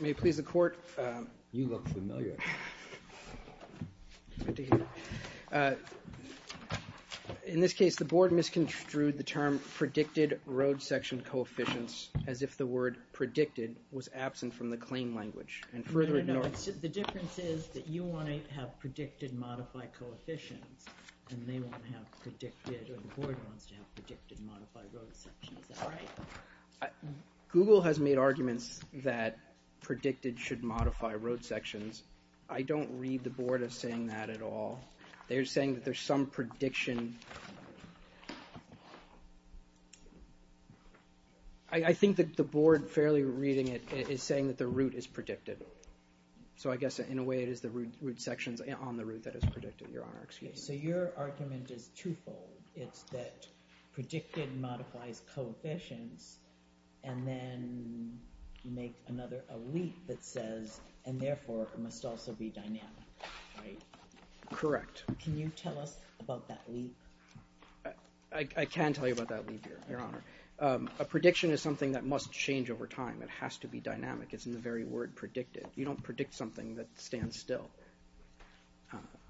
May it please the Court. You look familiar. In this case the Board misconstrued the term predicted road section coefficients as if the word predicted was absent from the claim language and further ignored. No, no, no. The difference is that you want to have predicted modified coefficients and they won't have predicted, or the Board wants to have predicted modified road sections. Is that right? Google has made arguments that predicted should modify road sections. I don't read the Board as saying that at all. They're saying that there's some prediction. I think that the Board fairly reading it is saying that the route is predicted. So I guess in a way it is the route sections on the route that is predicted, Your Honor. So your argument is twofold. It's that predicted modifies coefficients and then make another leap that says and therefore must also be dynamic. Correct. Can you tell us about that leap? I can tell you about that leap, Your Honor. A prediction is something that must change over time. It has to be dynamic. It's in the very word predicted. You don't predict something that stands still.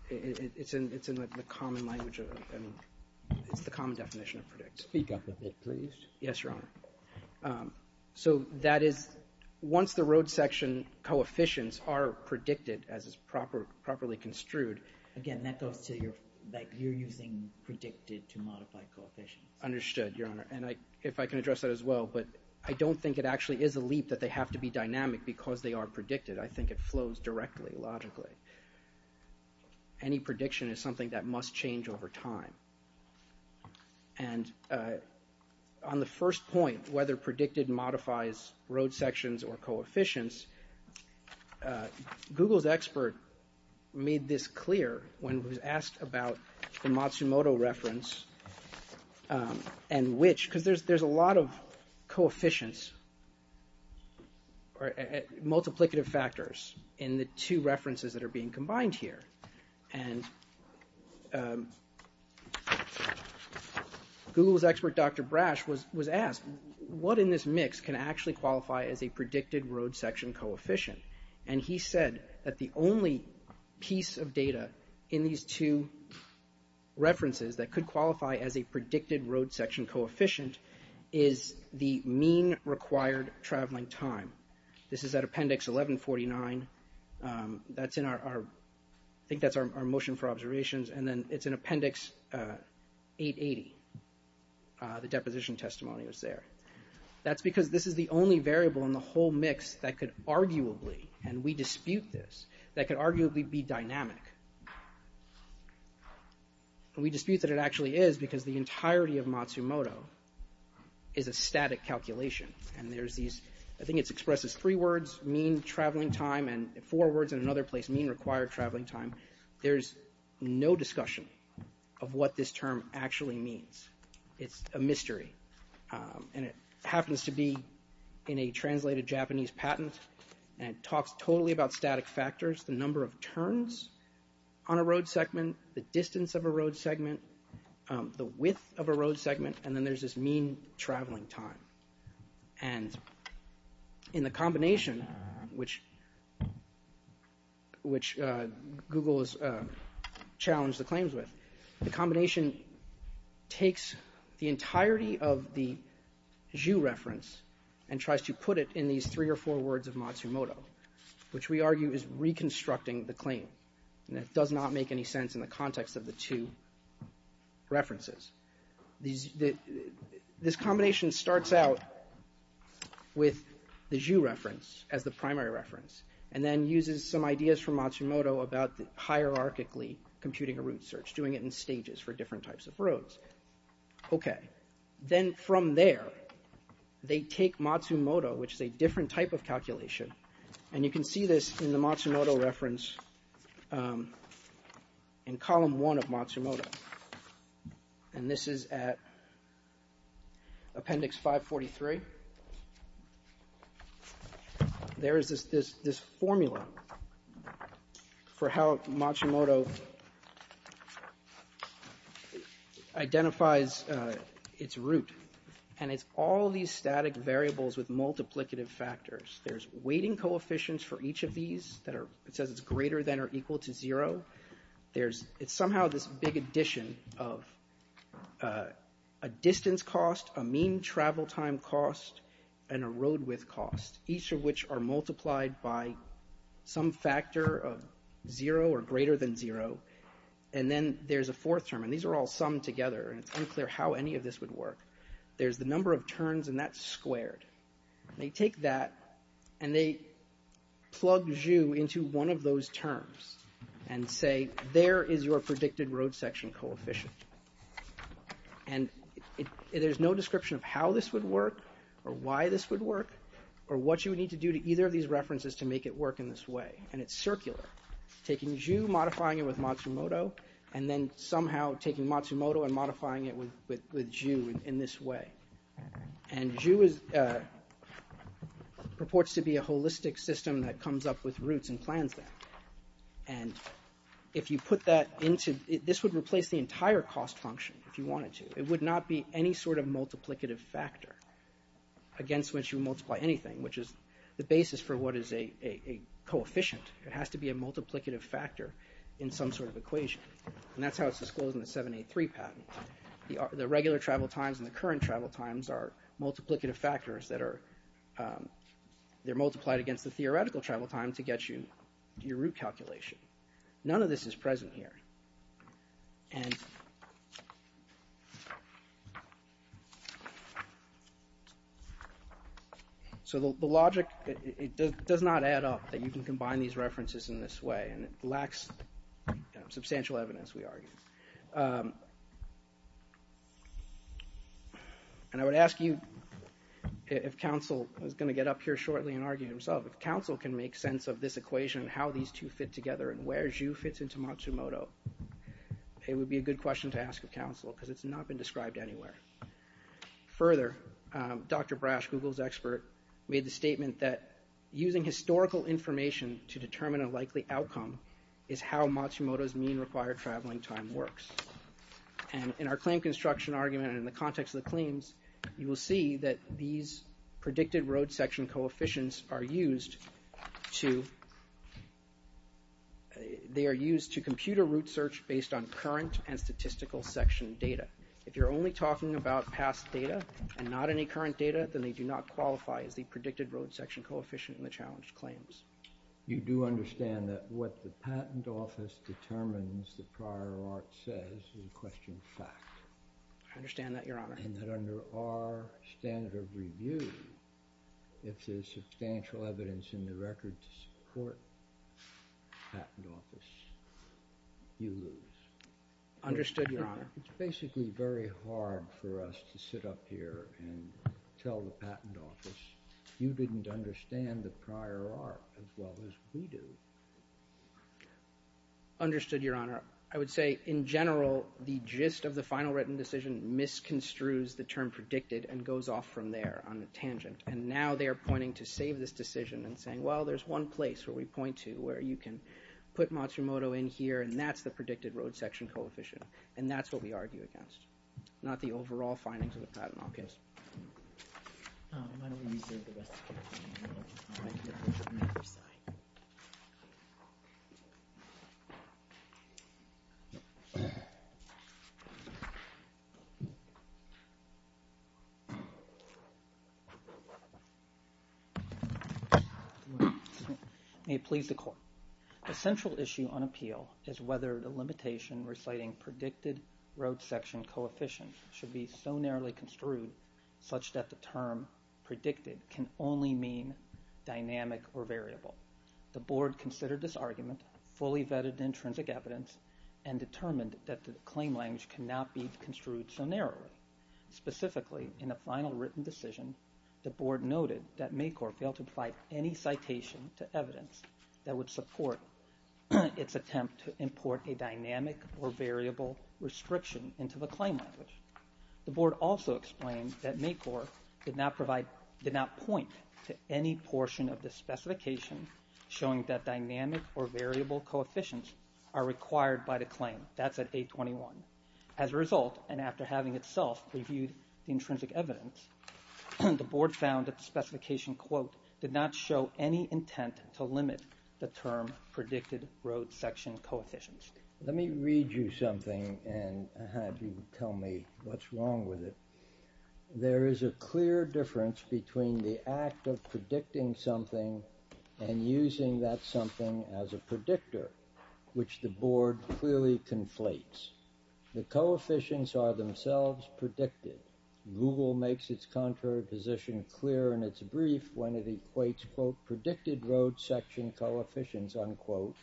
It's in the common language. It's the common definition of predict. Speak up a bit, please. Yes, Your Honor. So that is once the road section coefficients are predicted as is properly construed. Again, that goes to that you're using predicted to modify coefficients. Understood, Your Honor. And if I can address that as well, but I don't think it actually is a leap that they have to be dynamic because they are predicted. I think it flows directly logically. Any prediction is something that must change over time. And on the first point, whether predicted modifies road sections or coefficients, Google's expert made this clear when he was asked about the Matsumoto reference and which, because there's a lot of coefficients or multiplicative factors in the two references that are being combined here. And Google's expert, Dr. Brash, was asked what in this mix can actually qualify as a predicted road section coefficient. And he said that the only piece of data in these two references that could qualify as a predicted road section coefficient is the mean required traveling time. This is at appendix 1149. I think that's our motion for observations. And then it's in appendix 880. The deposition testimony was there. That's because this is the only variable in the whole mix that could arguably, and we dispute this, that could arguably be dynamic. We dispute that it actually is because the entirety of Matsumoto is a static calculation. And there's these, I think it's expressed as three words, mean traveling time, and four words in another place, mean required traveling time. There's no discussion of what this term actually means. It's a mystery. And it happens to be in a translated Japanese patent. And it talks totally about static factors, the number of turns on a road segment, the distance of a road segment, the width of a road segment, and then there's this mean traveling time. And in the combination, which Google has challenged the claims with, the combination takes the entirety of the and tries to put it in these three or four words of Matsumoto, which we argue is reconstructing the claim. And it does not make any sense in the context of the two references. This combination starts out with the Zhu reference as the primary reference, and then uses some ideas from Matsumoto about hierarchically computing a route search, doing it in stages for different types of roads. Okay, then from there, they take Matsumoto, which is a different type of calculation. And you can see this in the Matsumoto reference in column one of Matsumoto. And this is at appendix 543. There is this formula for how Matsumoto identifies its route. And it's all these static variables with multiplicative factors. There's weighting coefficients for each of these that are, it says it's greater than or equal to zero. There's, it's somehow this big addition of a distance cost, a mean travel time cost, and a road width cost, each of which are multiplied by some factor of zero or greater than zero. And then there's a fourth term, and these are all summed together, and it's unclear how any of this would work. There's the number of turns, and that's squared. They take that, and they plug Zhu into one of those terms and say, there is your predicted road section coefficient. And there's no description of how this would work, or why this would work, or what you would need to do to either of these references to make it work in this way. And it's circular, taking Zhu, modifying it with Matsumoto, and then somehow taking Matsumoto and modifying it with Zhu in this way. And Zhu is, purports to be a holistic system that comes up with routes and plans them. And if you put that into, this would replace the entire cost function if you wanted to. It would not be any sort of multiplicative factor against which you multiply anything, which is the basis for what is a coefficient. It has to be a multiplicative factor in some sort of equation. And that's how it's disclosed in the 7.8.3 patent. The regular travel times and the current travel times are factors that are, they're multiplied against the theoretical travel time to get you your route calculation. None of this is present here. So the logic, it does not add up that you can combine these references in this way, and it lacks substantial evidence, we argue. And I would ask you, if counsel is going to get up here shortly and argue himself, if counsel can make sense of this equation, how these two fit together, and where Zhu fits into Matsumoto, it would be a good question to ask of counsel, because it's not been described anywhere. Further, Dr. Brash, Google's expert, made the statement that using historical information to determine a likely outcome is how Matsumoto's mean required traveling time works. And in our claim construction argument, in the context of the claims, you will see that these predicted road section coefficients are used to, they are used to compute a route search based on current and statistical section data. If you're only talking about past data and not any current data, then they do not qualify as the predicted road section coefficient in the challenged claims. You do understand that what the patent office determines the prior art says is a question of fact? I understand that, Your Honor. And that under our standard of review, if there's substantial evidence in the record to support patent office, you lose. Understood, Your Honor. It's basically very hard for us to sit up here and tell the patent office, you didn't understand the prior art as well as we do. Understood, Your Honor. I would say in general, the gist of the final written decision misconstrues the term predicted and goes off from there on the tangent. And now they are pointing to save this decision and saying, well, there's one place where we point to where you can put Matsumoto in here, and that's the predicted road section coefficient. And that's what we argue against, not the overall findings of the patent office. May it please the court. The central issue on appeal is whether the limitation reciting predicted road section coefficient should be so narrowly construed such that the term predicted can only mean dynamic or variable. The board considered this argument, fully vetted intrinsic evidence, and determined that the claim language cannot be construed so narrowly. Specifically, in the final written decision, the board noted that MACOR failed to apply any citation to evidence that would support its attempt to import a dynamic or variable restriction into the claim language. The board also explained that MACOR did not point to any portion of the specification showing that dynamic or variable coefficients are required by the claim. That's at 821. As a result, and after having itself reviewed the intrinsic evidence, the board found that the specification quote did not show any intent to limit the term predicted road section coefficients. Let me read you something and have you tell me what's wrong with it. There is a clear difference between the act of predicting something and using that something as a predictor, which the board clearly conflates. The coefficients are themselves predicted. Google makes its contraposition clear in its brief when it equates, quote, predicted road section coefficients, unquote,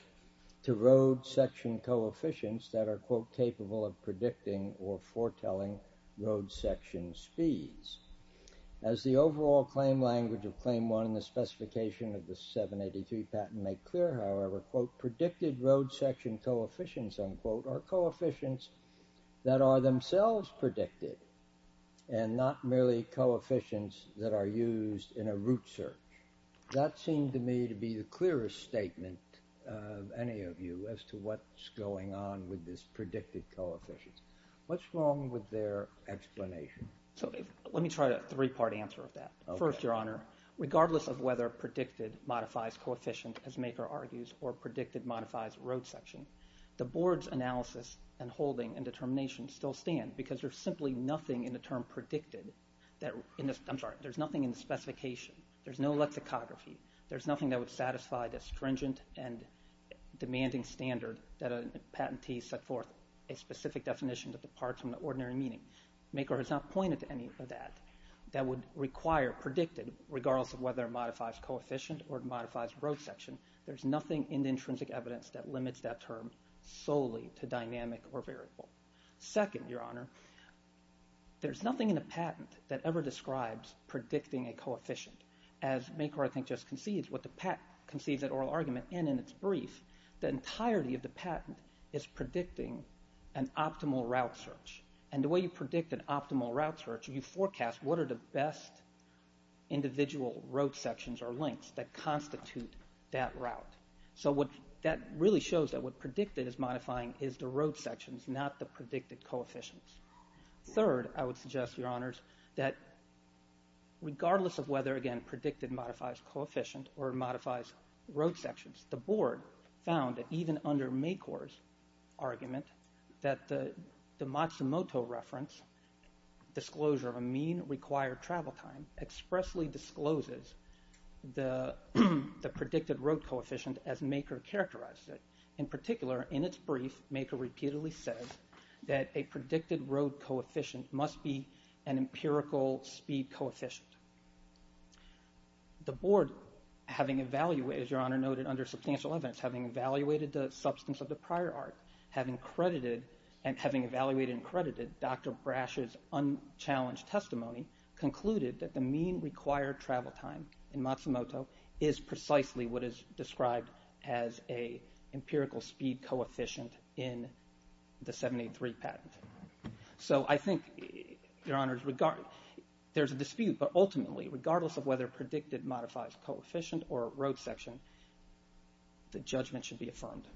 to road section coefficients that are, quote, capable of predicting or foretelling road section speeds. As the overall claim language of claim one in the specification of the 783 patent make clear, however, quote, predicted road section coefficients, unquote, are coefficients that are themselves predicted and not merely coefficients that are used in a root search. That seemed to me to be the clearest statement of any of you as to what's going on with this predicted coefficients. What's wrong with their explanation? So let me try a three-part answer of that. First, your honor, regardless of whether predicted modifies coefficient, as MACOR argues, or predicted modifies road section, the term predicted, I'm sorry, there's nothing in the specification. There's no lexicography. There's nothing that would satisfy the stringent and demanding standard that a patentee set forth a specific definition that departs from the ordinary meaning. MACOR has not pointed to any of that that would require predicted, regardless of whether it modifies coefficient or modifies road section. There's nothing in the intrinsic evidence that limits that term solely to dynamic or variable. Second, your honor, there's nothing in a patent that ever describes predicting a coefficient. As MACOR, I think, just concedes, what the patent concedes at oral argument and in its brief, the entirety of the patent is predicting an optimal route search. And the way you predict an optimal route search, you forecast what are the best individual road sections or links that not the predicted coefficients. Third, I would suggest, your honors, that regardless of whether, again, predicted modifies coefficient or modifies road sections, the board found that even under MACOR's argument that the Matsumoto reference, disclosure of a mean required travel time, expressly discloses the predicted road coefficient as MACOR characterized it. In particular, in its brief, MACOR repeatedly says that a predicted road coefficient must be an empirical speed coefficient. The board, having evaluated, as your honor noted, under substantial evidence, having evaluated the substance of the prior art, having credited, and having evaluated and credited Dr. Brash's unchallenged testimony, concluded that the mean required travel time in Matsumoto is precisely what is described as a empirical speed coefficient in the 783 patent. So I think, your honors, there's a dispute, but ultimately, regardless of whether predicted modifies coefficient or road section, the judgment should be affirmed.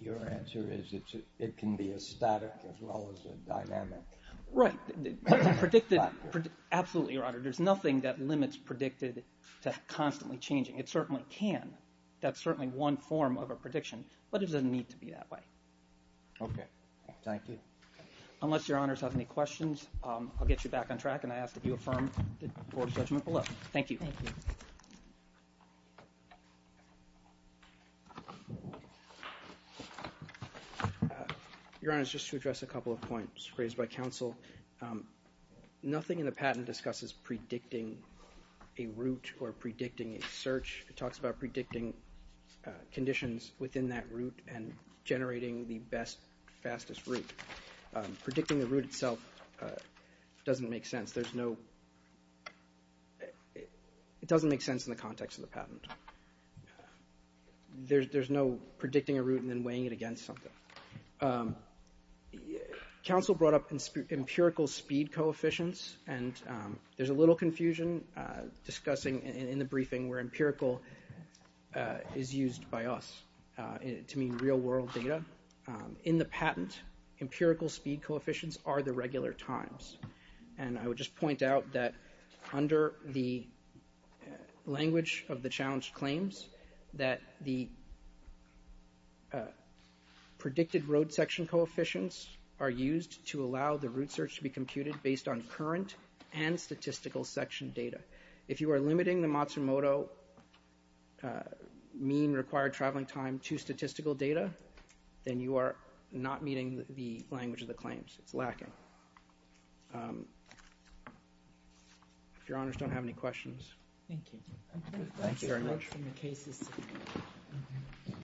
Your answer is it can be a static as well as a dynamic. Right. Predicted, absolutely, your honor. There's nothing that limits predicted to constantly changing. It certainly can. That's certainly one form of a prediction, but it doesn't need to be that way. Okay. Thank you. Unless your honors have any questions, I'll get you back on track, and I ask that you affirm the board's judgment below. Thank you. Your honors, just to address a couple of points raised by counsel, nothing in the patent discusses predicting a route or predicting a search. It talks about predicting conditions within that route and generating the best, fastest route. Predicting the route itself doesn't make sense. There's no... It doesn't make sense in the context of the patent. There's no predicting a route and then weighing it against something. Counsel brought up empirical speed coefficients, and there's a little confusion discussing in the briefing where empirical is used by us to mean real-world data. In the patent, empirical speed coefficients are the regular times. And I would just point out that under the language of the challenge claims that the predicted road section coefficients are used to allow the route search to be computed based on current and statistical section data. If you are limiting the Matsumoto mean required traveling time to statistical data, then you are not meeting the language of the claims. It's lacking. If your honors don't have any questions. Thank you. Thank you very much.